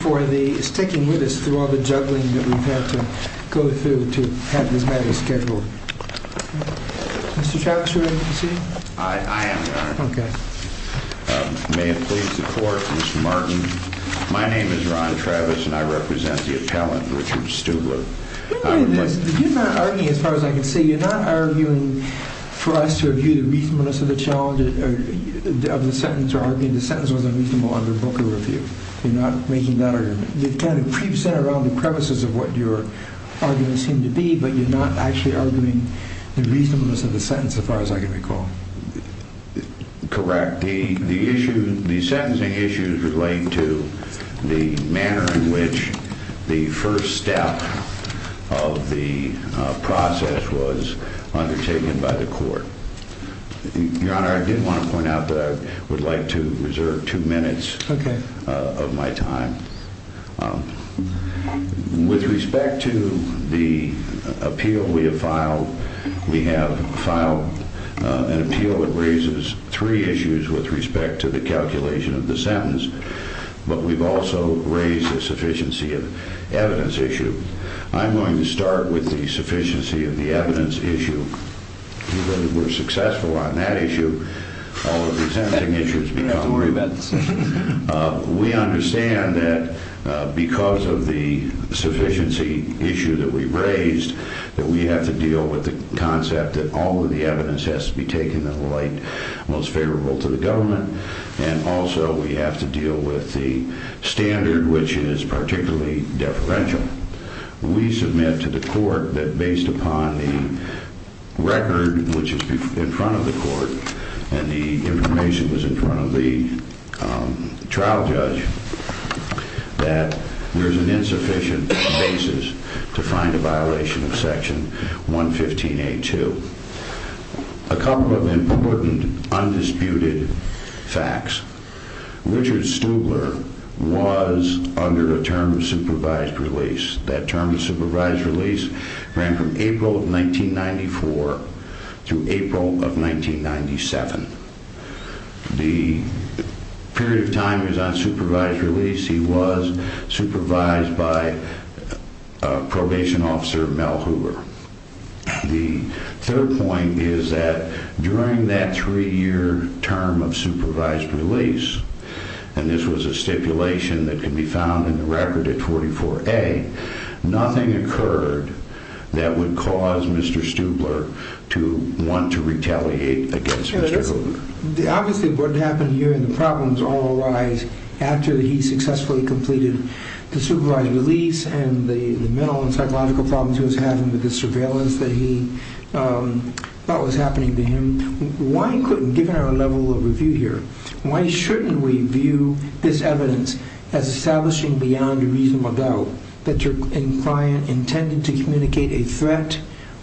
for sticking with us through all the juggling that we've had to go through to have this matter scheduled. Mr. Travis, are you ready to proceed? I am, Your Honor. Okay. May it please the Court, Mr. Martin. My name is Ron Travis, and I represent the appellant, Richard Stubler. You're not arguing, as far as I can see, you're not arguing for us to review the reasonableness of the sentence, or arguing the sentence was unreasonable under Booker review. You're not making that argument. You've kind of centered around the premises of what your arguments seem to be, but you're not actually arguing the reasonableness of the sentence, as far as I can recall. Correct. The issue, the sentencing issues relate to the manner in which the first step of the process was undertaken by the Court. Your Honor, I did want to point out that I would like to reserve two minutes. Okay. Of my time. With respect to the appeal we have filed, we have filed an appeal that raises three issues with respect to the calculation of the sentence, but we've also raised a sufficiency of evidence issue. I'm going to start with the sufficiency of the evidence issue. We're successful on that issue. All the sentencing issues become. We have to worry about this. We understand that because of the sufficiency issue that we've raised, that we have to deal with the concept that all of the evidence has to be taken in a light most favorable to the government, and also we have to deal with the standard, which is particularly deferential. We submit to the Court that based upon the record, which is in front of the Court, and the information was in front of the trial judge, that there's an insufficient basis to find a violation of Section 115A.2. A couple of important, undisputed facts. Richard Stubler was under a term of supervised release. That term of supervised release ran from April of 1994 through April of 1997. The period of time he was on supervised release, he was supervised by a probation officer, Mel Hoover. The third point is that during that three-year term of supervised release, and this was a stipulation that can be found in the record at 44A, nothing occurred that would cause Mr. Stubler to want to retaliate against Mr. Hoover. Obviously, what happened here and the problems all arise after he successfully completed the supervised release and the mental and psychological problems he was having with the surveillance that he thought was happening to him. Why couldn't, given our level of review here, why shouldn't we view this evidence as establishing beyond a reasonable doubt that you're intended to communicate a threat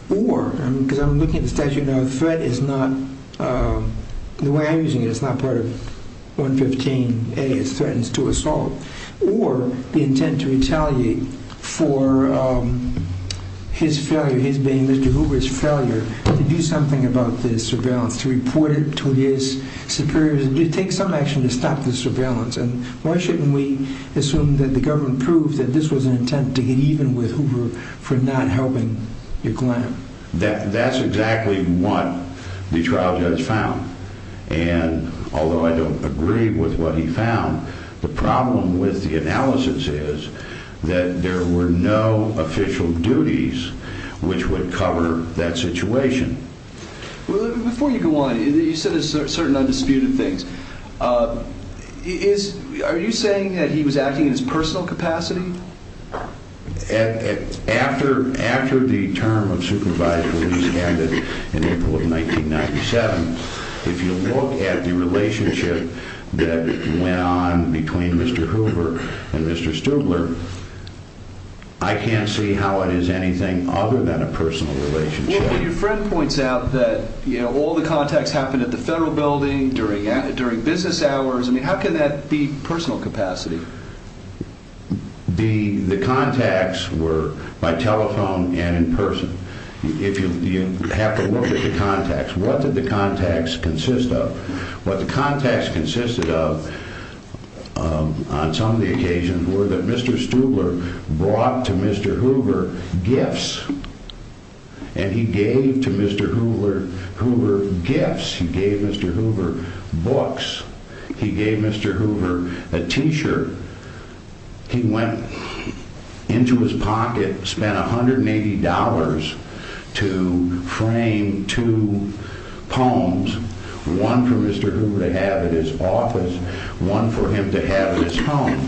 or, because I'm looking at the statute now, a threat is not, the way I'm using it, it's not part of 115A, it's threatens to assault, or the intent to retaliate for his failure, his being Mr. Hoover's failure, to do something about the surveillance, to report it to his superiors, to take some action to stop the surveillance, and why shouldn't we assume that the government proved that this was an intent to get even with Hoover for not helping your client? That's exactly what the trial judge found, and although I don't agree with what he found, the problem with the analysis is that there were no official duties which would cover that situation. Before you go on, you said there's certain undisputed things. Are you saying that he was acting in his personal capacity? After the term of supervised release ended in April of 1997, if you look at the relationship that went on between Mr. Hoover and Mr. Stubler, I can't see how it is anything other than a personal relationship. When your friend points out that all the contacts happened at the Federal Building, during business hours, I mean, how can that be personal capacity? The contacts were by telephone and in person. You have to look at the contacts. What did the contacts consist of? What the contacts consisted of on some of the occasions were that Mr. Stubler brought to Mr. Hoover gifts, and he gave to Mr. Hoover gifts. He gave Mr. Hoover books. He gave Mr. Hoover a T-shirt. He went into his pocket, spent $180 to frame two poems, one for Mr. Hoover to have at his office, one for him to have at his home.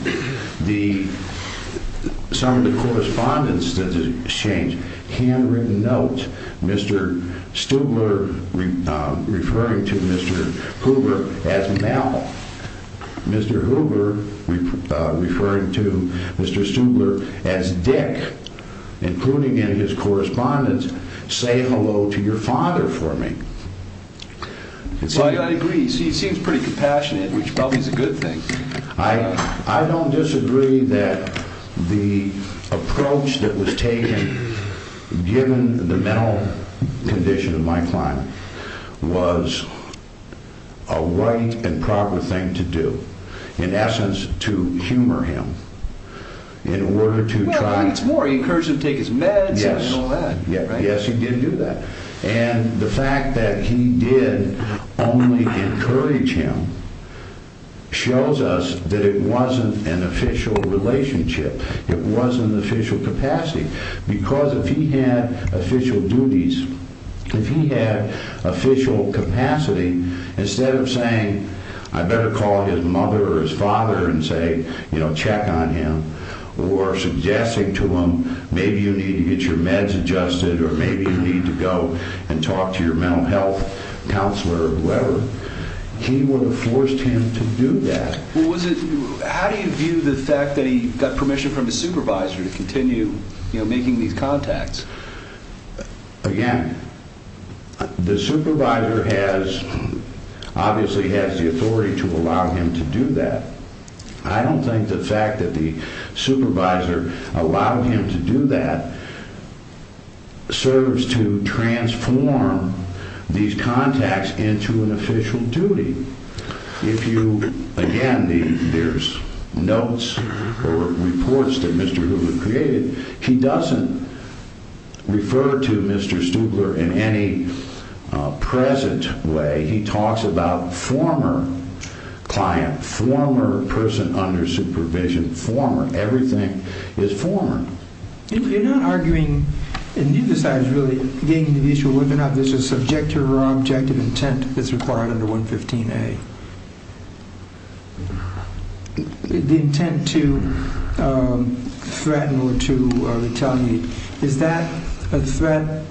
Some of the correspondence that he exchanged, handwritten notes, Mr. Stubler referring to Mr. Hoover as Mel. Mr. Hoover referring to Mr. Stubler as Dick, including in his correspondence, say hello to your father for me. I agree. He seems pretty compassionate, which probably is a good thing. I don't disagree that the approach that was taken, given the mental condition of my client, was a right and proper thing to do. In essence, to humor him. Well, he encouraged him to take his meds and all that. Yes, he did do that. And the fact that he did only encourage him shows us that it wasn't an official relationship. It wasn't an official capacity, because if he had official duties, if he had official capacity, instead of saying, I better call his mother or his father and say, you know, check on him, or suggesting to him, maybe you need to get your meds adjusted, or maybe you need to go and talk to your mental health counselor or whoever, he would have forced him to do that. Well, how do you view the fact that he got permission from his supervisor to continue making these contacts? Again, the supervisor obviously has the authority to allow him to do that. I don't think the fact that the supervisor allowed him to do that serves to transform these contacts into an official duty. Again, there's notes or reports that Mr. Hoover created. He doesn't refer to Mr. Stubler in any present way. He talks about former client, former person under supervision, former, everything is former. You're not arguing, and neither side is really getting to the issue of whether or not there's a subjective or objective intent that's required under 115A. The intent to threaten or to retaliate, is that a threat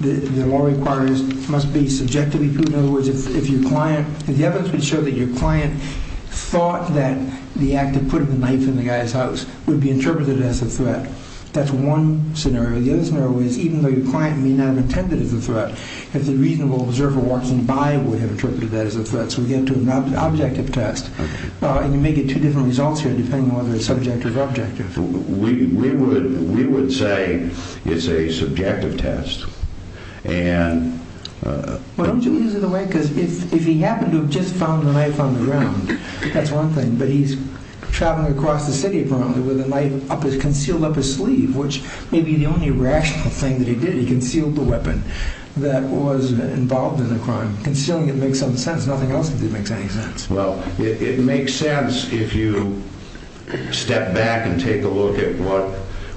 that the law requires must be subjectively proven? In other words, if your client, if the evidence would show that your client thought that the act of putting the knife in the guy's house would be interpreted as a threat, that's one scenario. The other scenario is, even though your client may not have intended it as a threat, if the reasonable observer walking by would have interpreted that as a threat. So we get to an objective test. And you make it two different results here, depending on whether it's subjective or objective. We would say it's a subjective test. Why don't you use it that way? Because if he happened to have just found the knife on the ground, that's one thing. But he's traveling across the city, apparently, with the knife concealed up his sleeve, which may be the only rational thing that he did. He concealed the weapon that was involved in the crime. Concealing it makes some sense. Nothing else did make any sense. Well, it makes sense if you step back and take a look at what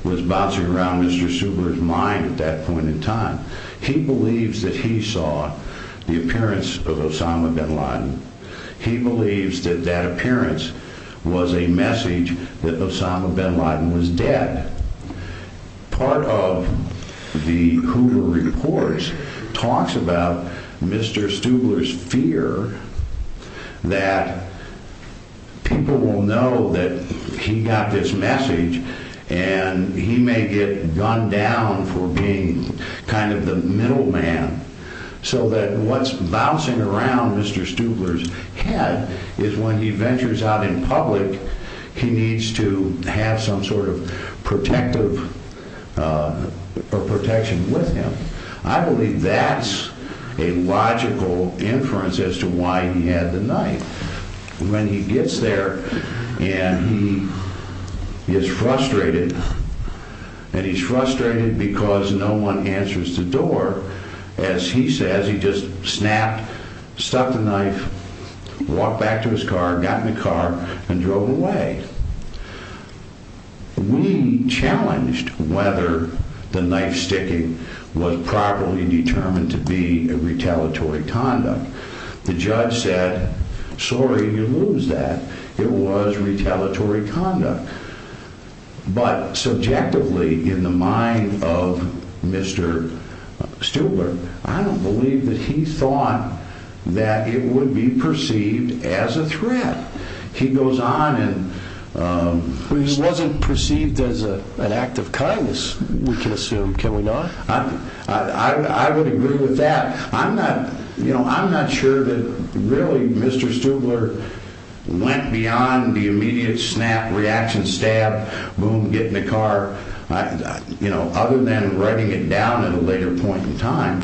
was bouncing around Mr. Suber's mind at that point in time. He believes that he saw the appearance of Osama bin Laden. He believes that that appearance was a message that Osama bin Laden was dead. Part of the Hoover reports talks about Mr. Stubler's fear that people will know that he got this message and he may get gunned down for being kind of the middle man. So that what's bouncing around Mr. Stubler's head is when he ventures out in public, he needs to have some sort of protection with him. I believe that's a logical inference as to why he had the knife. When he gets there and he is frustrated, and he's frustrated because no one answers the door, as he says, he just snapped, stuck the knife, walked back to his car, got in the car, and drove away. We challenged whether the knife sticking was properly determined to be a retaliatory conduct. The judge said, sorry, you lose that. It was retaliatory conduct. But subjectively, in the mind of Mr. Stubler, I don't believe that he thought that it would be perceived as a threat. He goes on and... He wasn't perceived as an act of kindness, we can assume. Can we not? I would agree with that. I'm not sure that really Mr. Stubler went beyond the immediate snap, reaction, stab, boom, get in the car, other than writing it down at a later point in time.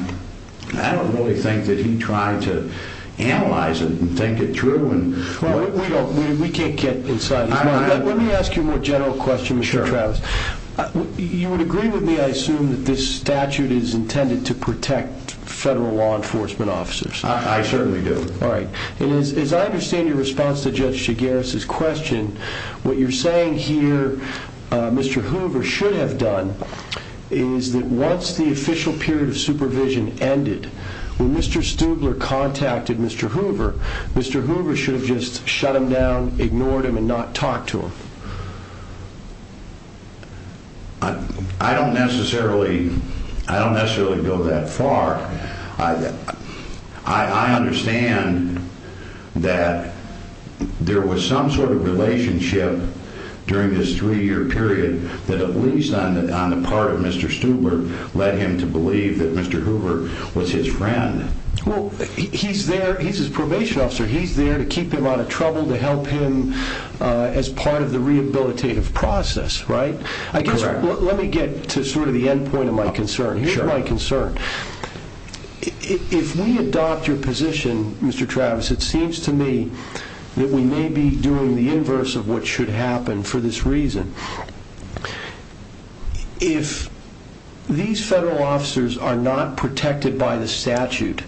I don't really think that he tried to analyze it and think it through. We can't get inside his mind. Let me ask you a more general question, Mr. Travis. You would agree with me, I assume, that this statute is intended to protect federal law enforcement officers. I certainly do. As I understand your response to Judge Chigares' question, what you're saying here Mr. Hoover should have done is that once the official period of supervision ended, when Mr. Stubler contacted Mr. Hoover, Mr. Hoover should have just shut him down, ignored him, and not talked to him. I don't necessarily go that far. I understand that there was some sort of relationship during this three-year period that at least on the part of Mr. Stubler led him to believe that Mr. Hoover was his friend. He's his probation officer. He's there to keep him out of trouble, to help him as part of the rehabilitative process. Let me get to the end point of my concern. Here's my concern. If we adopt your position, Mr. Travis, it seems to me that we may be doing the inverse of what should happen for this reason. If these federal officers are not protected by the statute,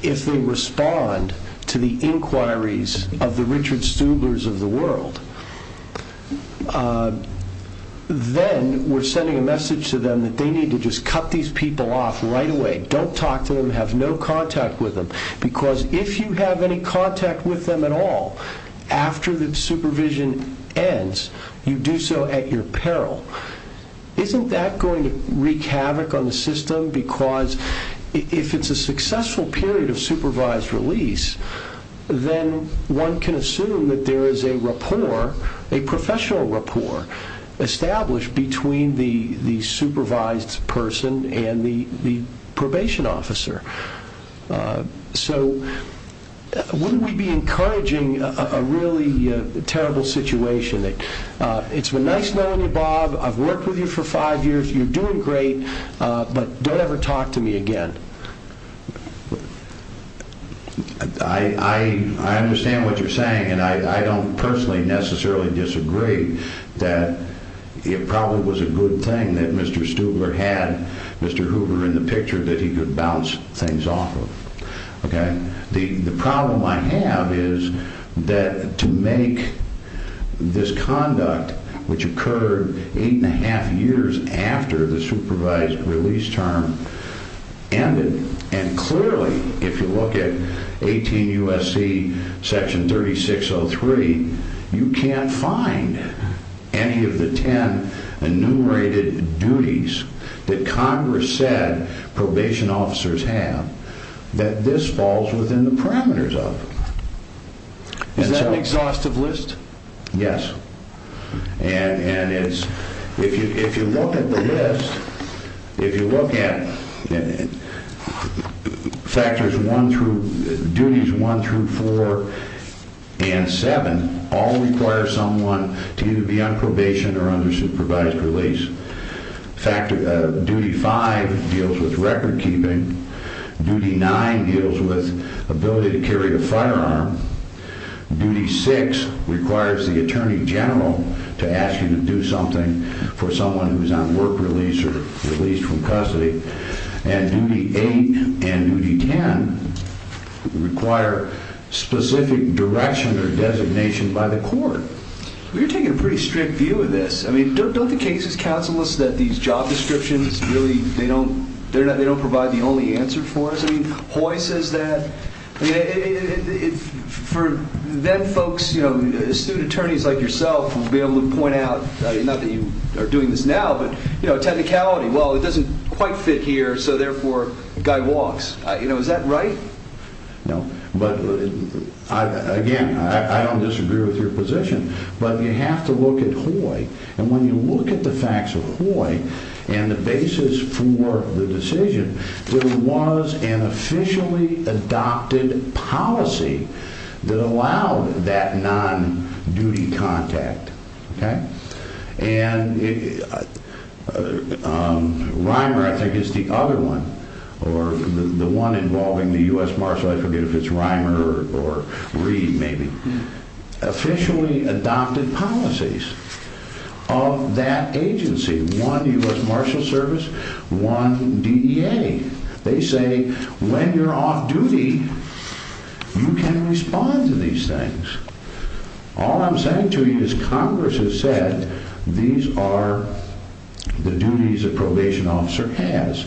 if they respond to the inquiries of the Richard Stublers of the world, then we're sending a message to them that they need to just cut these people off right away. Don't talk to them. Have no contact with them. If you have any contact with them at all, after the supervision ends, you do so at your peril. Isn't that going to wreak havoc on the system? If it's a successful period of supervised release, then one can assume that there is a professional rapport established between the supervised person and the probation officer. Wouldn't we be encouraging a really terrible situation? It's been nice knowing you, Bob. I've worked with you for five years. You're doing great, but don't ever talk to me again. I understand what you're saying. I don't personally necessarily disagree that it probably was a good thing that Mr. Stubler had Mr. Hoover in the picture, that he could bounce things off of. The problem I have is that to make this conduct, which occurred eight and a half years after the supervised release term ended, and clearly, if you look at 18 U.S.C. section 3603, you can't find any of the ten enumerated duties that Congress said probation officers have, that this falls within the parameters of. Is that an exhaustive list? Yes. If you look at the list, if you look at factors one through duties one through four and seven, all require someone to either be on probation or under supervised release. Duty five deals with record keeping. Duty nine deals with ability to carry a firearm. Duty six requires the attorney general to ask you to do something for someone who is on work release or released from custody. And duty eight and duty ten require specific direction or designation by the court. You're taking a pretty strict view of this. I mean, don't the cases counsel us that these job descriptions really, they don't provide the only answer for us? I mean, Hoy says that. For then folks, you know, student attorneys like yourself will be able to point out, not that you are doing this now, but, you know, technicality, well, it doesn't quite fit here, so therefore, the guy walks. You know, is that right? No. But, again, I don't disagree with your position, but you have to look at Hoy. And when you look at the facts of Hoy and the basis for the decision, there was an officially adopted policy that allowed that non-duty contact. Okay? And Reimer, I think, is the other one, or the one involving the U.S. Marshals. I forget if it's Reimer or Reid, maybe. Officially adopted policies of that agency. One, U.S. Marshals Service. One, DEA. They say when you're off duty, you can respond to these things. All I'm saying to you is Congress has said these are the duties a probation officer has.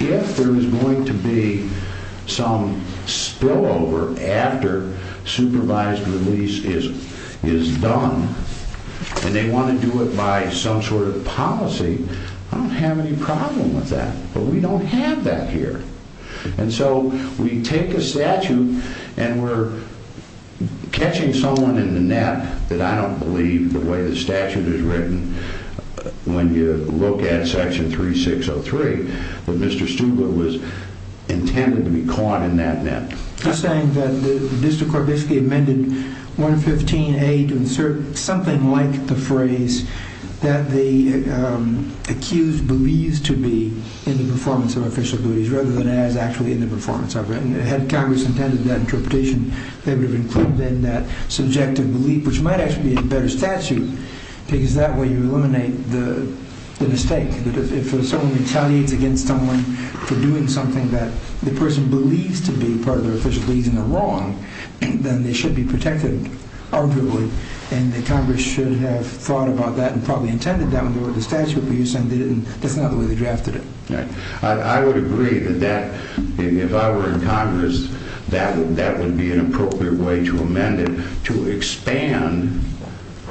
If there is going to be some spillover after supervised release is done, and they want to do it by some sort of policy, I don't have any problem with that. But we don't have that here. And so we take a statute and we're catching someone in the net that I don't believe the way the statute is written when you look at Section 3603. But Mr. Stubler was intended to be caught in that net. I'm saying that the district court basically amended 115A to insert something like the phrase that the accused believes to be in the performance of official duties, rather than as actually in the performance of it. And had Congress intended that interpretation, they would have included in that subjective belief, which might actually be a better statute, because that way you eliminate the mistake. If someone retaliates against someone for doing something that the person believes to be part of their official duties and they're wrong, then they should be protected, arguably. And Congress should have thought about that and probably intended that when they wrote the statute. But you're saying that's not the way they drafted it. I would agree that if I were in Congress, that would be an appropriate way to amend it, to expand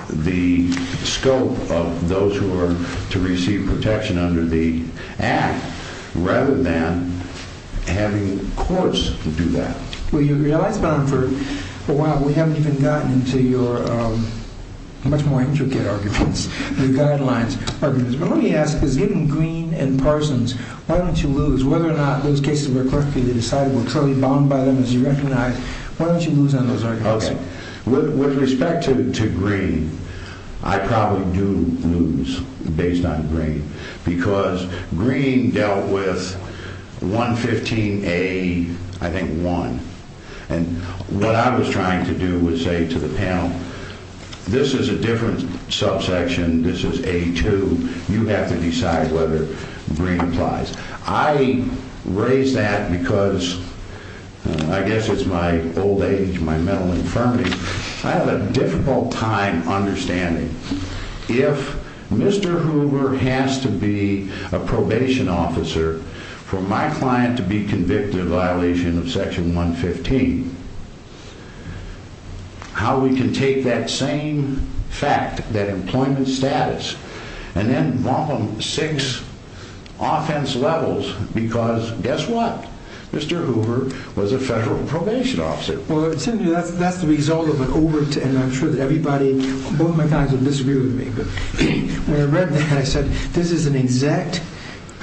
the scope of those who are to receive protection under the Act, rather than having courts do that. Well, you realize, Ben, for a while we haven't even gotten into your much more intricate arguments, your guidelines. Let me ask, given Greene and Parsons, why don't you lose? Whether or not those cases were correctly decided were truly bound by them as you recognize. Why don't you lose on those arguments? With respect to Greene, I probably do lose based on Greene, because Greene dealt with 115A, I think, 1. And what I was trying to do was say to the panel, this is a different subsection. This is A2. You have to decide whether Greene applies. I raise that because I guess it's my old age, my mental infirmity. I have a difficult time understanding if Mr. Hoover has to be a probation officer for my client to be convicted of violation of Section 115, how we can take that same fact, that employment status, and then bump them six offense levels because guess what? Mr. Hoover was a federal probation officer. Well, that's the result of an overt, and I'm sure that everybody, both my clients would disagree with me, but when I read that, I said this is an exact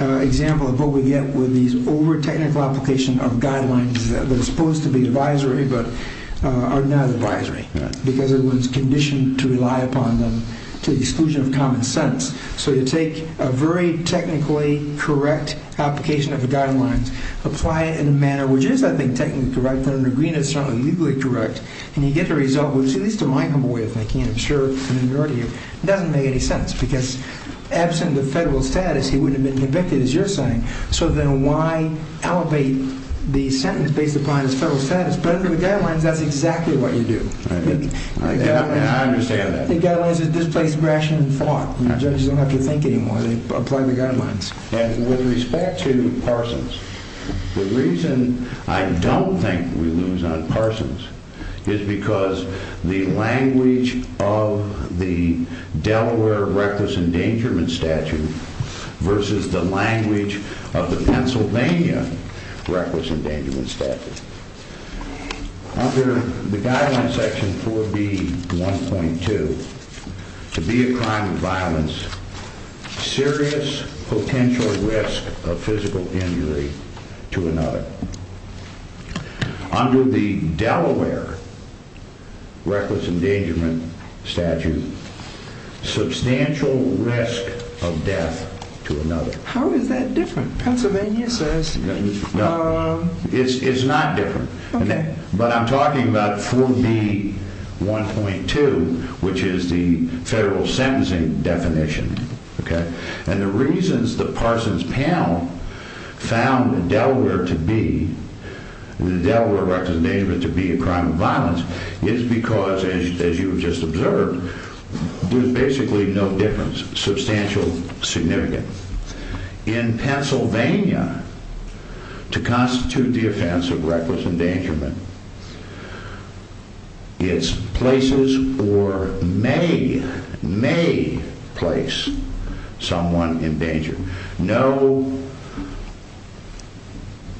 example of what we get with these overt technical application of guidelines that are supposed to be advisory but are not advisory because everyone's conditioned to rely upon them to the exclusion of common sense. So you take a very technically correct application of the guidelines, apply it in a manner which is, I think, technically correct, but under Greene it's certainly legally correct, and you get the result which, at least to my humble way of thinking, I'm sure to the majority of you, doesn't make any sense because absent of federal status, he wouldn't have been convicted, as you're saying, so then why elevate the sentence based upon his federal status? But under the guidelines, that's exactly what you do. I understand that. The guidelines are displaced, rationed, and fought. Judges don't have to think anymore. They apply the guidelines. And with respect to Parsons, the reason I don't think we lose on Parsons is because the language of the Delaware reckless endangerment statute versus the language of the Pennsylvania reckless endangerment statute. Under the guidelines, section 4B, 1.2, to be a crime of violence, serious potential risk of physical injury to another. Under the Delaware reckless endangerment statute, substantial risk of death to another. How is that different? Pennsylvania says... But I'm talking about 4B, 1.2, which is the federal sentencing definition. And the reasons the Parsons panel found the Delaware reckless endangerment to be a crime of violence is because, as you have just observed, there's basically no difference. In Pennsylvania, to constitute the offense of reckless endangerment, it's places or may place someone in danger. No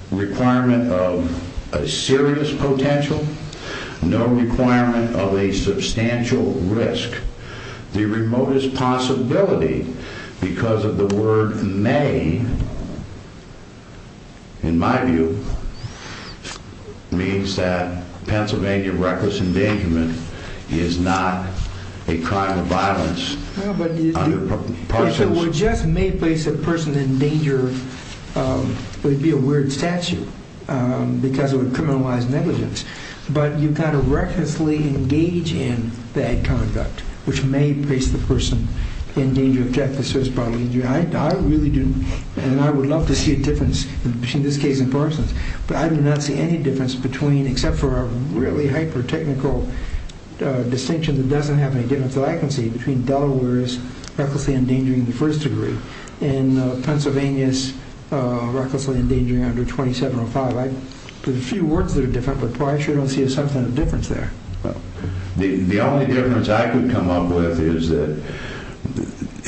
requirement of a serious potential. No requirement of a substantial risk. The remotest possibility, because of the word may, in my view, means that Pennsylvania reckless endangerment is not a crime of violence. If it were just may place a person in danger, it would be a weird statute because it would criminalize negligence. But you kind of recklessly engage in bad conduct, which may place the person in danger of death, a serious potential injury. I would love to see a difference between this case and Parsons. But I do not see any difference except for a really hyper-technical distinction that doesn't have any difference that I can see between Delaware's recklessly endangering in the first degree and Pennsylvania's recklessly endangering under 2705. There's a few words that are different, but I sure don't see a substantive difference there. The only difference I could come up with is that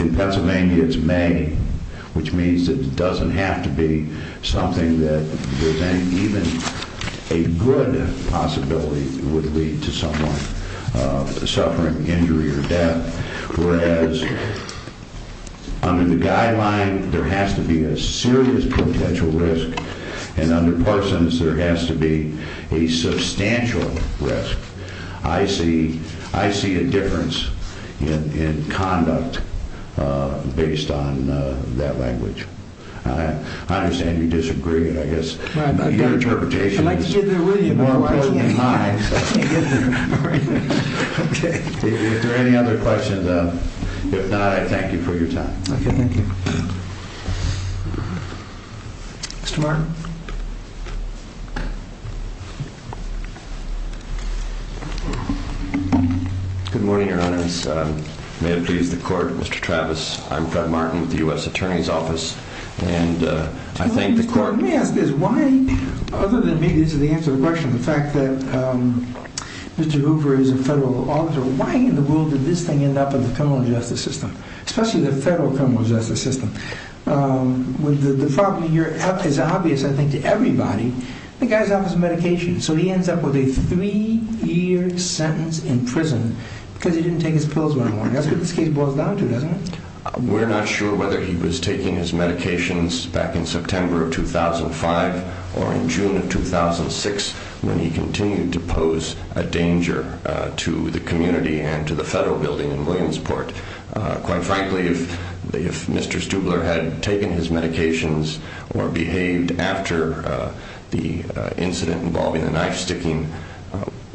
in Pennsylvania it's may, which means it doesn't have to be something that there's even a good possibility would lead to someone suffering injury or death. Whereas under the guideline there has to be a serious potential risk, and under Parsons there has to be a substantial risk. I see a difference in conduct based on that language. I understand you disagree, and I guess your interpretation is more important than mine. If there are any other questions, if not, I thank you for your time. Okay, thank you. Mr. Martin? Good morning, Your Honor. May it please the court, Mr. Travis. I'm Fred Martin with the U.S. Attorney's Office, and I thank the court. Your Honor, let me ask this. Why, other than maybe this is the answer to the question, the fact that Mr. Hoover is a federal auditor, why in the world did this thing end up in the criminal justice system, especially the federal criminal justice system? The problem here is obvious, I think, to everybody. The guy's out of his medication, so he ends up with a three-year sentence in prison because he didn't take his pills when he won. That's what this case boils down to, doesn't it? We're not sure whether he was taking his medications back in September of 2005 or in June of 2006 when he continued to pose a danger to the community and to the federal building in Williamsport. Quite frankly, if Mr. Stubler had taken his medications or behaved after the incident involving the knife-sticking,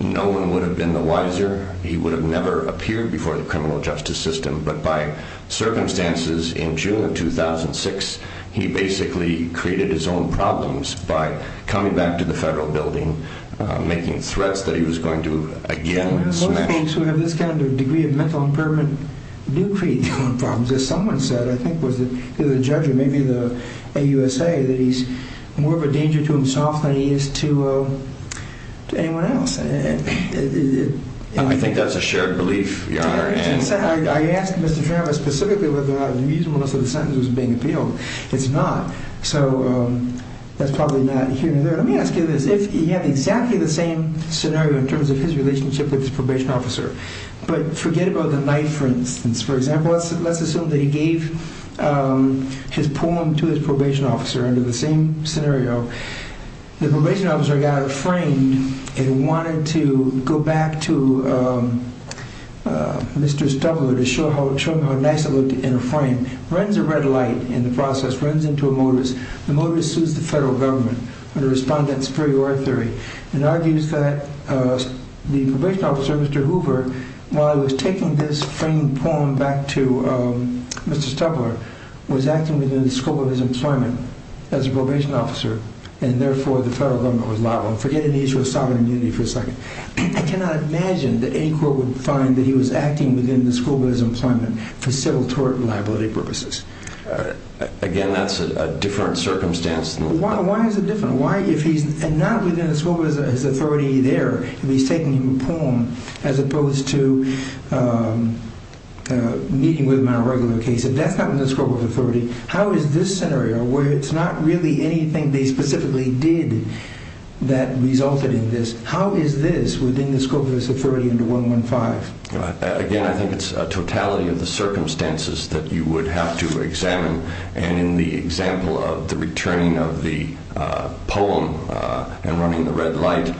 no one would have been the wiser. He would have never appeared before the criminal justice system. But by circumstances in June of 2006, he basically created his own problems by coming back to the federal building, making threats that he was going to again smash. Most folks who have this kind of degree of mental impairment do create their own problems. As someone said, I think it was the judge or maybe the AUSA, that he's more of a danger to himself than he is to anyone else. I think that's a shared belief, Your Honor. I asked Mr. Travis specifically whether or not the reasonableness of the sentence was being appealed. It's not. So that's probably not here or there. Let me ask you this. If he had exactly the same scenario in terms of his relationship with his probation officer, but forget about the knife, for instance, for example. Let's assume that he gave his poem to his probation officer under the same scenario. The probation officer got afraid and wanted to go back to Mr. Stubler to show him how nice it looked in a frame. He runs a red light in the process, runs into a modus. The modus is the federal government. It argues that the probation officer, Mr. Hoover, while he was taking this framed poem back to Mr. Stubler, was acting within the scope of his employment as a probation officer, and therefore the federal government was liable. Forget the issue of sovereign immunity for a second. I cannot imagine that any court would find that he was acting within the scope of his employment for civil tort and liability purposes. Again, that's a different circumstance. Why is it different? Why, if he's not within the scope of his authority there, if he's taking a poem as opposed to meeting with him in a regular case, if that's not within the scope of authority, how is this scenario, where it's not really anything they specifically did that resulted in this, how is this within the scope of his authority under 115? Again, I think it's a totality of the circumstances that you would have to examine, and in the example of the returning of the poem and running the red light,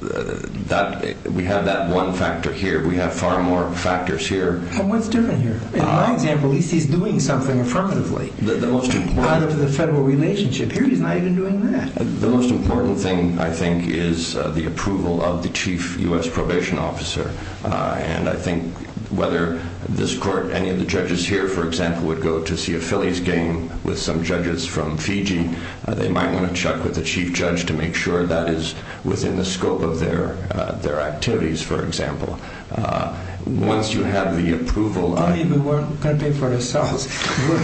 we have that one factor here. We have far more factors here. But what's different here? In my example, at least he's doing something affirmatively. The most important... Part of the federal relationship here, he's not even doing that. The most important thing, I think, is the approval of the chief U.S. probation officer. And I think whether this court, any of the judges here, for example, would go to see a Phillies game with some judges from Fiji, they might want to check with the chief judge to make sure that is within the scope of their activities, for example. Once you have the approval... How many of you weren't going to pay for yourselves?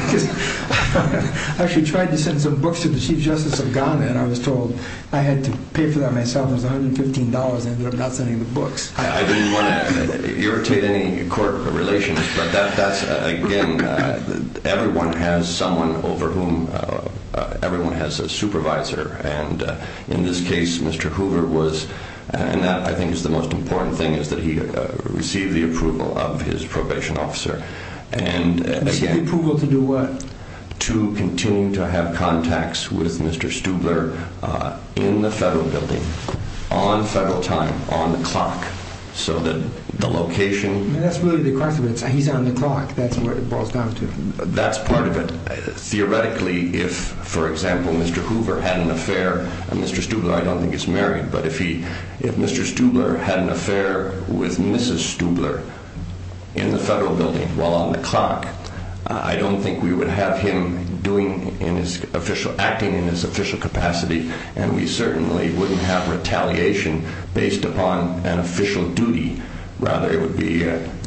I actually tried to send some books to the chief justice of Ghana, and I was told I had to pay for that myself. It was $115, and I ended up not sending the books. I didn't want to irritate any court relations, but that's, again, everyone has someone over whom everyone has a supervisor. In this case, Mr. Hoover was... And that, I think, is the most important thing, is that he received the approval of his probation officer. Received approval to do what? To continue to have contacts with Mr. Stubler in the federal building, on federal time, on the clock, so that the location... That's really the question. He's on the clock. That's what it boils down to. That's part of it. Theoretically, if, for example, Mr. Hoover had an affair, and Mr. Stubler I don't think is married, but if Mr. Stubler had an affair with Mrs. Stubler in the federal building while on the clock, I don't think we would have him acting in his official capacity, and we certainly wouldn't have retaliation based upon an official duty. Rather, it would be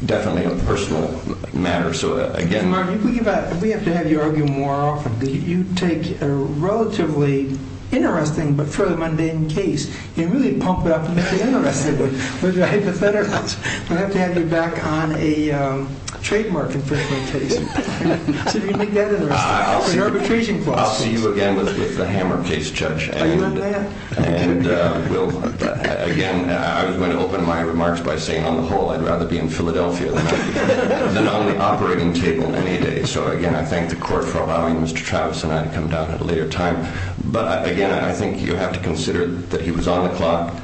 definitely a personal matter. Mr. Martin, we have to have you argue more often. You take a relatively interesting but fairly mundane case and really pump it up and make it interesting with your hypotheticals. I'm going to have to have you back on a trademark infringement case. See if you can make that interesting. I'll see you again with the hammer case, Judge. Are you on that? Again, I was going to open my remarks by saying, on the whole, I'd rather be in Philadelphia than on the operating table any day. So, again, I thank the court for allowing Mr. Travis and I to come down at a later time. But, again, I think you have to consider that he was on the clock.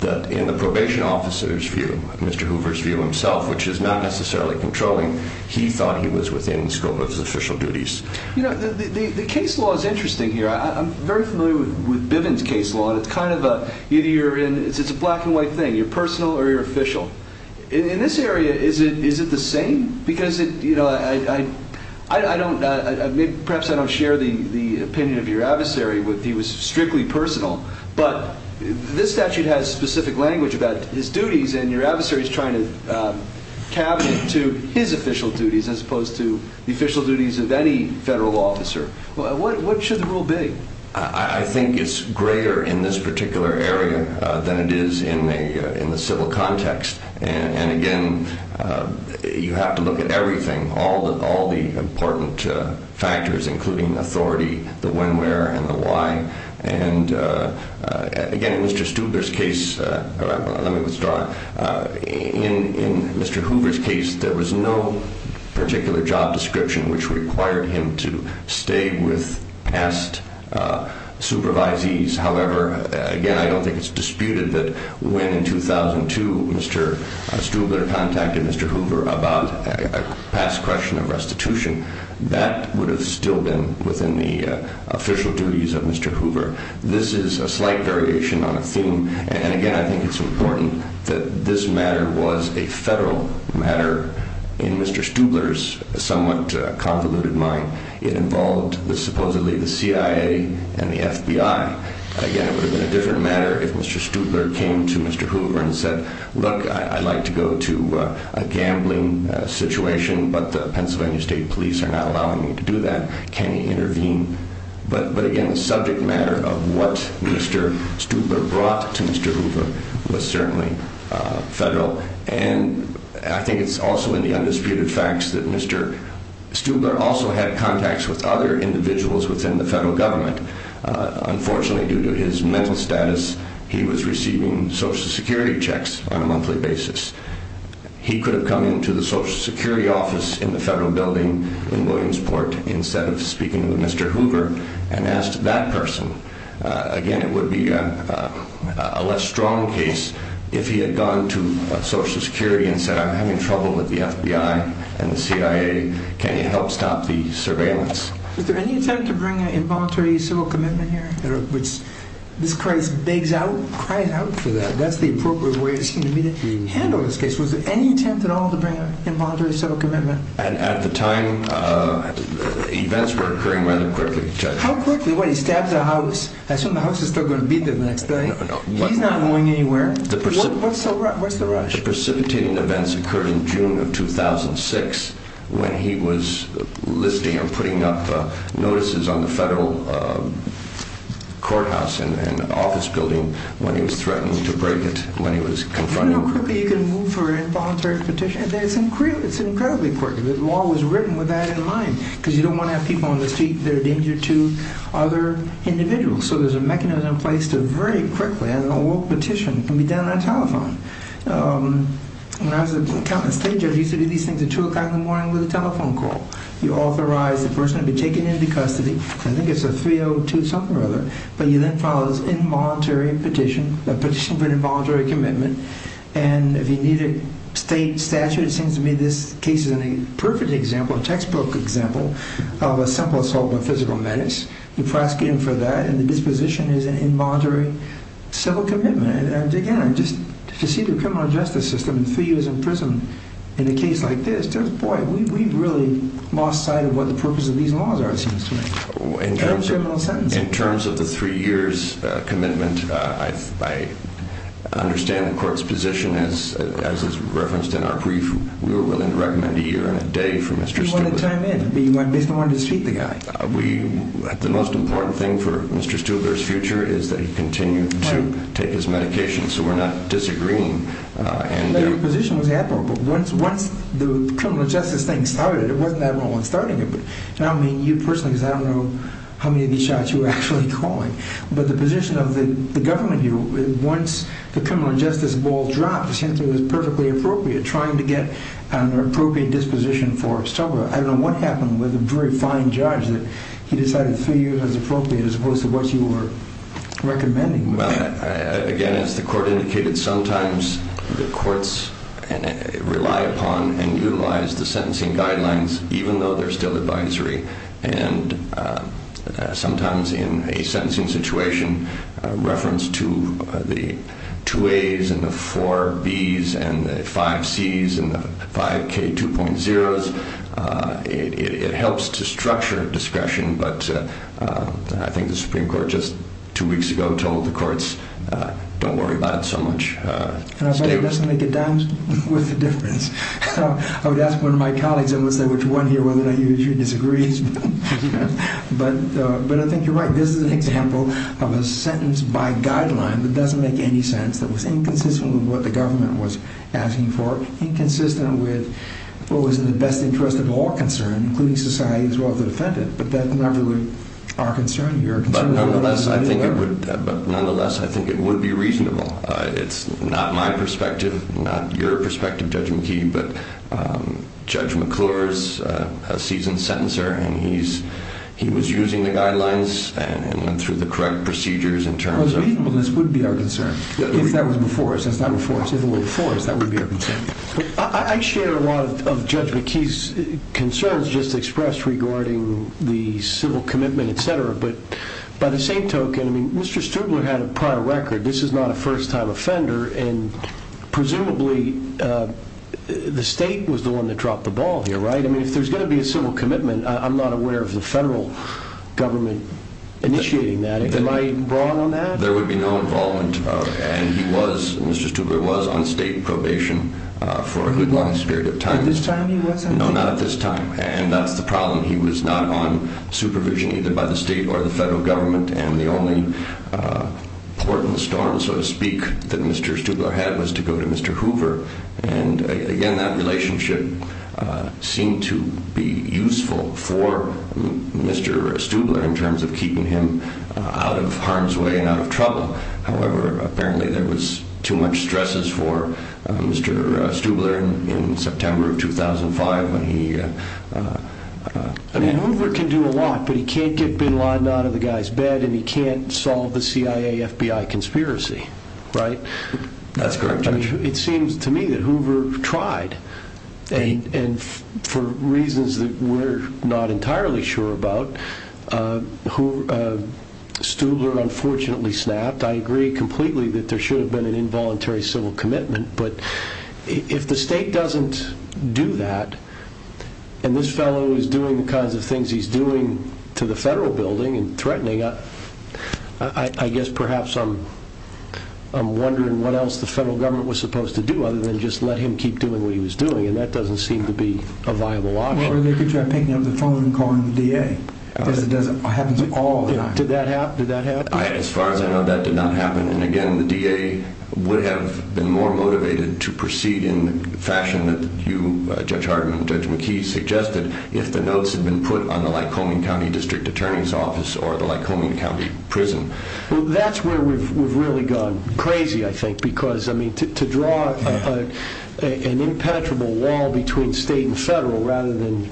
In the probation officer's view, Mr. Hoover's view himself, which is not necessarily controlling, he thought he was within Stubler's official duties. The case law is interesting here. I'm very familiar with Bivens' case law. It's a black and white thing. You're personal or you're official. In this area, is it the same? Perhaps I don't share the opinion of your adversary. He was strictly personal. But this statute has specific language about his duties, and your adversary is trying to cabinet to his official duties as opposed to the official duties of any federal officer. What should the rule be? I think it's greater in this particular area than it is in the civil context. And, again, you have to look at everything, all the important factors, including authority, the when, where, and the why. And, again, in Mr. Stubler's case, let me withdraw. In Mr. Hoover's case, there was no particular job description which required him to stay with past supervisees. However, again, I don't think it's disputed that when, in 2002, Mr. Stubler contacted Mr. Hoover about a past question of restitution, that would have still been within the official duties of Mr. Hoover. This is a slight variation on a theme. And, again, I think it's important that this matter was a federal matter in Mr. Stubler's somewhat convoluted mind. It involved supposedly the CIA and the FBI. Again, it would have been a different matter if Mr. Stubler came to Mr. Hoover and said, Look, I'd like to go to a gambling situation, but the Pennsylvania State Police are not allowing me to do that. Can you intervene? But, again, the subject matter of what Mr. Stubler brought to Mr. Hoover was certainly federal. And I think it's also in the undisputed facts that Mr. Stubler also had contacts with other individuals within the federal government. Unfortunately, due to his mental status, he was receiving Social Security checks on a monthly basis. He could have come into the Social Security office in the federal building in Williamsport instead of speaking to Mr. Hoover and asked that person. Again, it would be a less strong case if he had gone to Social Security and said, I'm having trouble with the FBI and the CIA. Can you help stop the surveillance? Was there any attempt to bring an involuntary civil commitment here? This case begs out for that. That's the appropriate way to handle this case. Was there any attempt at all to bring an involuntary civil commitment? At the time, events were occurring rather quickly. How quickly? What, he stabs a house? I assume the house is still going to be there the next day. No, no. He's not going anywhere. What's the rush? The most precipitating events occurred in June of 2006 when he was listing or putting up notices on the federal courthouse and office building when he was threatened to break it when he was confronted. Do you know how quickly you can move for an involuntary petition? It's incredibly quick. The law was written with that in mind because you don't want to have people on the street that are a danger to other individuals. So there's a mechanism in place to very quickly, as an awoke petition, can be done on a telephone. When I was a county state judge, you used to do these things at 2 o'clock in the morning with a telephone call. You authorize the person to be taken into custody. I think it's a 302 something or other. But you then file this involuntary petition, a petition for an involuntary commitment. And if you need a state statute, it seems to me this case is a perfect example, a textbook example, of a simple assault by physical menace. You're prosecuting for that, and the disposition is an involuntary civil commitment. And again, just to see the criminal justice system in three years in prison in a case like this, boy, we've really lost sight of what the purpose of these laws are, it seems to me. In terms of the three years commitment, I understand the court's position as is referenced in our brief. We were willing to recommend a year and a day for Mr. Stewart. You wanted time in, but you basically wanted to defeat the guy. The most important thing for Mr. Stewart's future is that he continue to take his medication, so we're not disagreeing. But your position was admirable. Once the criminal justice thing started, it wasn't that everyone was starting it. Now, I mean, you personally, because I don't know how many of these shots you were actually calling. But the position of the government here, once the criminal justice ball dropped, it seems to me it was perfectly appropriate, trying to get an appropriate disposition for Stewart. I don't know what happened with a very fine judge that he decided three years was appropriate as opposed to what you were recommending. Well, again, as the court indicated, sometimes the courts rely upon and utilize the sentencing guidelines, even though they're still advisory. And sometimes in a sentencing situation, reference to the two As and the four Bs and the five Cs and the five K2.0s, it helps to structure discretion. But I think the Supreme Court just two weeks ago told the courts, don't worry about it so much. It doesn't make a dime's worth of difference. I would ask one of my colleagues, I won't say which one here, whether or not you disagree. But I think you're right. This is an example of a sentence by guideline that doesn't make any sense, that was inconsistent with what the government was asking for, inconsistent with what was in the best interest of all concerned, including society as well as the defendant. But that's not really our concern. But nonetheless, I think it would be reasonable. It's not my perspective, not your perspective, Judge McKee, but Judge McClure is a seasoned sentencer, and he was using the guidelines and went through the correct procedures in terms of— Well, reasonableness would be our concern, if that was before us. That's not before us. If it were before us, that would be our concern. I share a lot of Judge McKee's concerns just expressed regarding the civil commitment, et cetera. But by the same token, Mr. Stubler had a prior record. This is not a first-time offender, and presumably the state was the one that dropped the ball here, right? If there's going to be a civil commitment, I'm not aware of the federal government initiating that. Am I wrong on that? There would be no involvement, and Mr. Stubler was on state probation for a good long period of time. At this time he was? No, not at this time. That's the problem. He was not on supervision either by the state or the federal government, and the only port in the storm, so to speak, that Mr. Stubler had was to go to Mr. Hoover. Again, that relationship seemed to be useful for Mr. Stubler in terms of keeping him out of harm's way and out of trouble. However, apparently there was too much stresses for Mr. Stubler in September of 2005 when he… Hoover can do a lot, but he can't get Bin Laden out of the guy's bed, and he can't solve the CIA-FBI conspiracy, right? That's correct, Judge. It seems to me that Hoover tried, and for reasons that we're not entirely sure about, Stubler unfortunately snapped. I agree completely that there should have been an involuntary civil commitment, but if the state doesn't do that, and this fellow is doing the kinds of things he's doing to the federal building and threatening, I guess perhaps I'm wondering what else the federal government was supposed to do other than just let him keep doing what he was doing, and that doesn't seem to be a viable option. Or they could try picking up the phone and calling the DA, because it happens all the time. Did that happen? As far as I know, that did not happen. And again, the DA would have been more motivated to proceed in the fashion that you, Judge Hardman, Judge McKee, suggested if the notes had been put on the Lycoming County District Attorney's Office or the Lycoming County Prison. That's where we've really gone crazy, I think, because to draw an impenetrable wall between state and federal rather than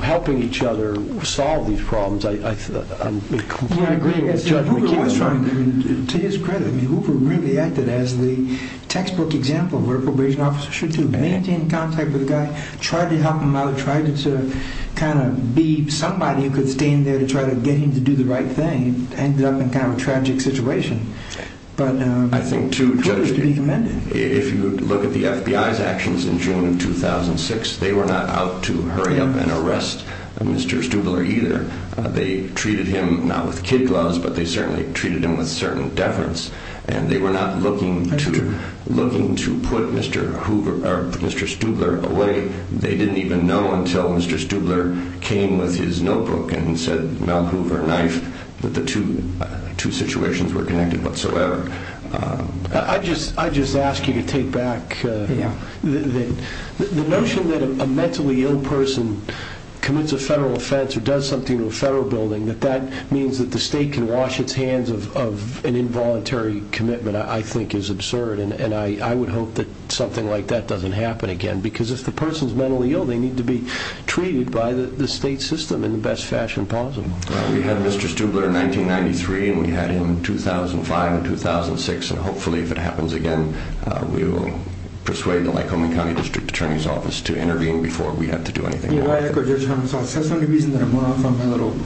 helping each other solve these problems, I completely agree with Judge McKee. To his credit, Hoover really acted as the textbook example of where a probation officer should do. Maintain contact with a guy, try to help him out, try to be somebody who could stand there to try to get him to do the right thing. Ended up in kind of a tragic situation. I think too, Judge, if you look at the FBI's actions in June of 2006, they were not out to hurry up and arrest Mr. Stubler either. They treated him not with kid gloves, but they certainly treated him with certain deference, and they were not looking to put Mr. Stubler away. They didn't even know until Mr. Stubler came with his notebook and said, Mel Hoover, knife, that the two situations were connected whatsoever. I just ask you to take back the notion that a mentally ill person commits a federal offense or does something to a federal building, that that means that the state can wash its hands of an involuntary commitment, I think is absurd, and I would hope that something like that doesn't happen again, because if the person's mentally ill, they need to be treated by the state system in the best fashion possible. Well, we had Mr. Stubler in 1993, and we had him in 2005 and 2006, and hopefully if it happens again, we will persuade the Lycoming County District Attorney's Office to intervene before we have to do anything about it. You know, I echo Judge Humisol. That's the only reason that I'm going off on my little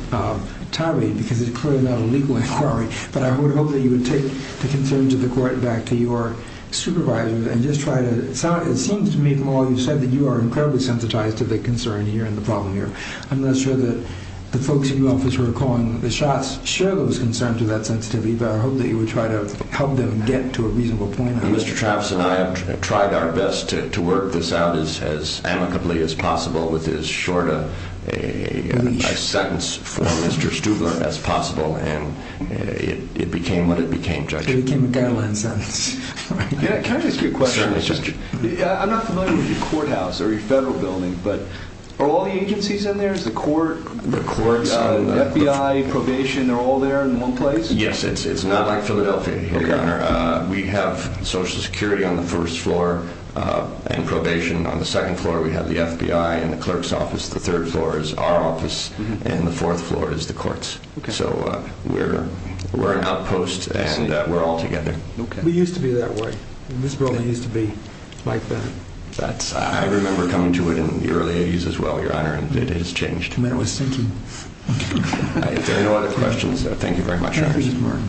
tirade, because it's clearly not a legal inquiry, but I would hope that you would take the concerns of the court back to your supervisors and just try to, it seems to me, Mel, you said that you are incredibly sensitized to the concern here and the problem here. I'm not sure that the folks in your office who are calling the shots share those concerns or that sensitivity, but I hope that you would try to help them get to a reasonable point. Well, Mr. Travis and I have tried our best to work this out as amicably as possible with as short a sentence for Mr. Stubler as possible, and it became what it became, Judge. So it became a guideline sentence. Can I ask you a question? I'm not familiar with your courthouse or your federal building, but are all the agencies in there? Is the court, FBI, probation, they're all there in one place? Yes, it's not like Philadelphia, Your Honor. We have Social Security on the first floor and probation on the second floor. We have the FBI in the clerk's office. The third floor is our office, and the fourth floor is the court's. So we're an outpost, and we're all together. We used to be that way. It used to be like that. I remember coming to it in the early 80s as well, Your Honor, and it has changed. The man was thinking. If there are no other questions, thank you very much, Your Honor. Thank you, Mr. Martin.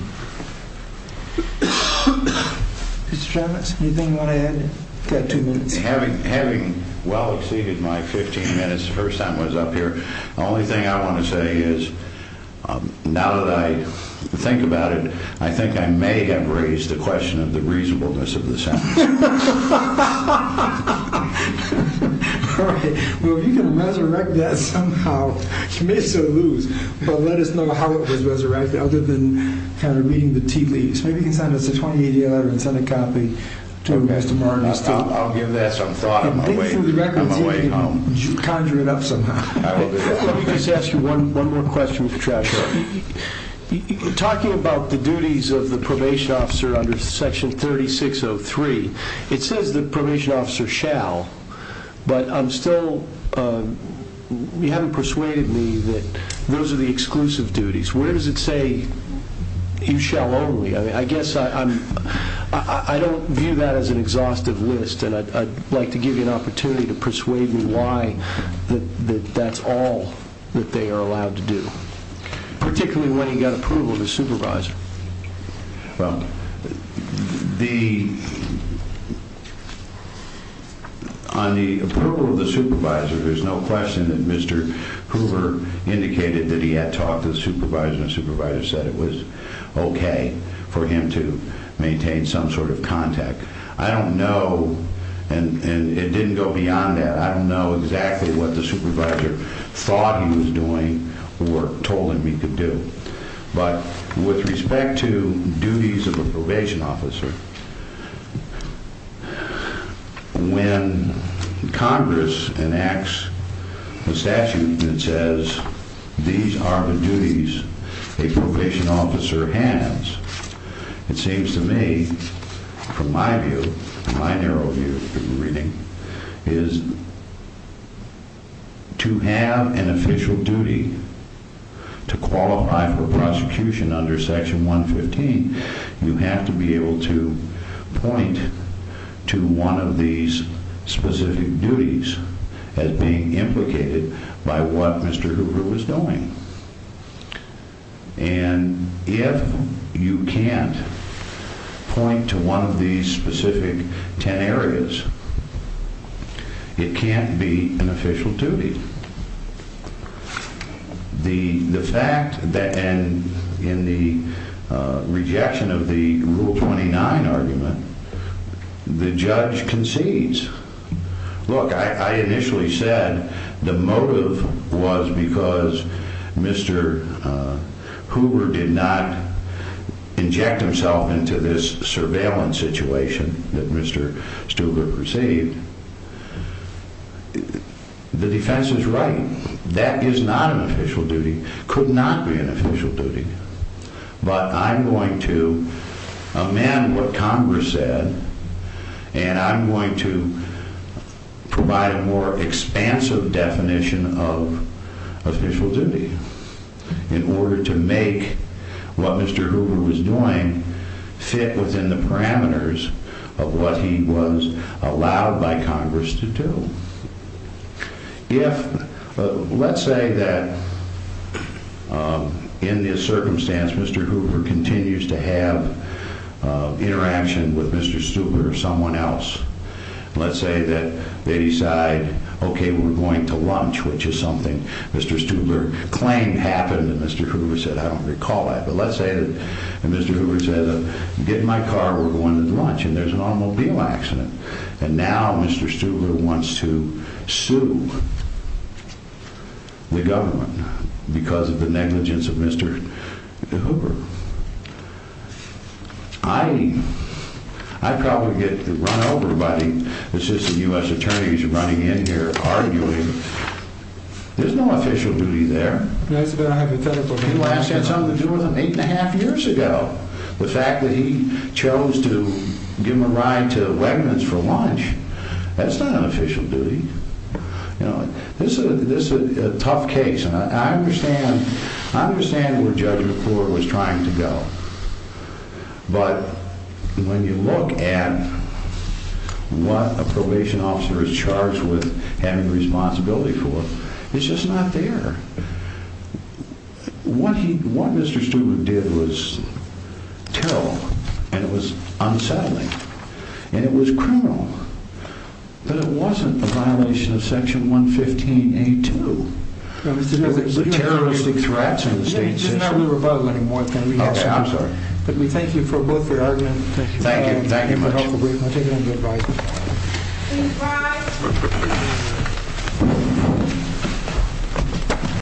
Mr. Travis, anything you want to add? You've got two minutes. Having well exceeded my 15 minutes the first time I was up here, the only thing I want to say is now that I think about it, I think I may have raised the question of the reasonableness of the sentence. All right. Well, you can resurrect that somehow. You may still lose, but let us know how it was resurrected, other than kind of reading the tea leaves. Maybe you can send us a 28-day letter and send a copy to Mr. Martin. I'll give that some thought on my way home. Conjure it up somehow. Let me just ask you one more question, Mr. Travis. Sure. Talking about the duties of the probation officer under Section 3603, it says the probation officer shall, but you haven't persuaded me that those are the exclusive duties. Where does it say you shall only? I guess I don't view that as an exhaustive list, and I'd like to give you an opportunity to persuade me why that's all that they are allowed to do, particularly when you've got approval of the supervisor. Well, on the approval of the supervisor, there's no question that Mr. Hoover indicated that he had talked to the supervisor and the supervisor said it was okay for him to maintain some sort of contact. I don't know, and it didn't go beyond that, I don't know exactly what the supervisor thought he was doing or told him he could do. But with respect to duties of a probation officer, when Congress enacts a statute that says these are the duties a probation officer has, it seems to me, from my view, my narrow view through reading, is to have an official duty to qualify for prosecution under Section 115, you have to be able to point to one of these specific duties as being implicated by what Mr. Hoover was doing. And if you can't point to one of these specific ten areas, it can't be an official duty. The fact that in the rejection of the Rule 29 argument, the judge concedes. Look, I initially said the motive was because Mr. Hoover did not inject himself into this surveillance situation that Mr. Stuber perceived. The defense is right. That is not an official duty. Could not be an official duty. But I'm going to amend what Congress said and I'm going to provide a more expansive definition of official duty in order to make what Mr. Hoover was doing fit within the parameters of what he was allowed by Congress to do. Let's say that in this circumstance, Mr. Hoover continues to have interaction with Mr. Stuber or someone else. Let's say that they decide, okay, we're going to lunch, which is something Mr. Stuber claimed happened, and Mr. Hoover said, I don't recall that. But let's say that Mr. Hoover said, get in my car, we're going to lunch, and there's an automobile accident. And now Mr. Stuber wants to sue the government because of the negligence of Mr. Hoover. I'd probably get run over by the assistant U.S. attorneys running in here arguing. There's no official duty there. He last had something to do with them eight and a half years ago. The fact that he chose to give them a ride to Wegmans for lunch, that's not an official duty. This is a tough case, and I understand where Judge McClure was trying to go. But when you look at what a probation officer is charged with having responsibility for, it's just not there. What Mr. Stuber did was terrible, and it was unsettling, and it was criminal. But it wasn't a violation of Section 115A2. There's terroristic threats in the state system. It's not a new rebuttal anymore. But we thank you both for your argument. Thank you. Thank you very much.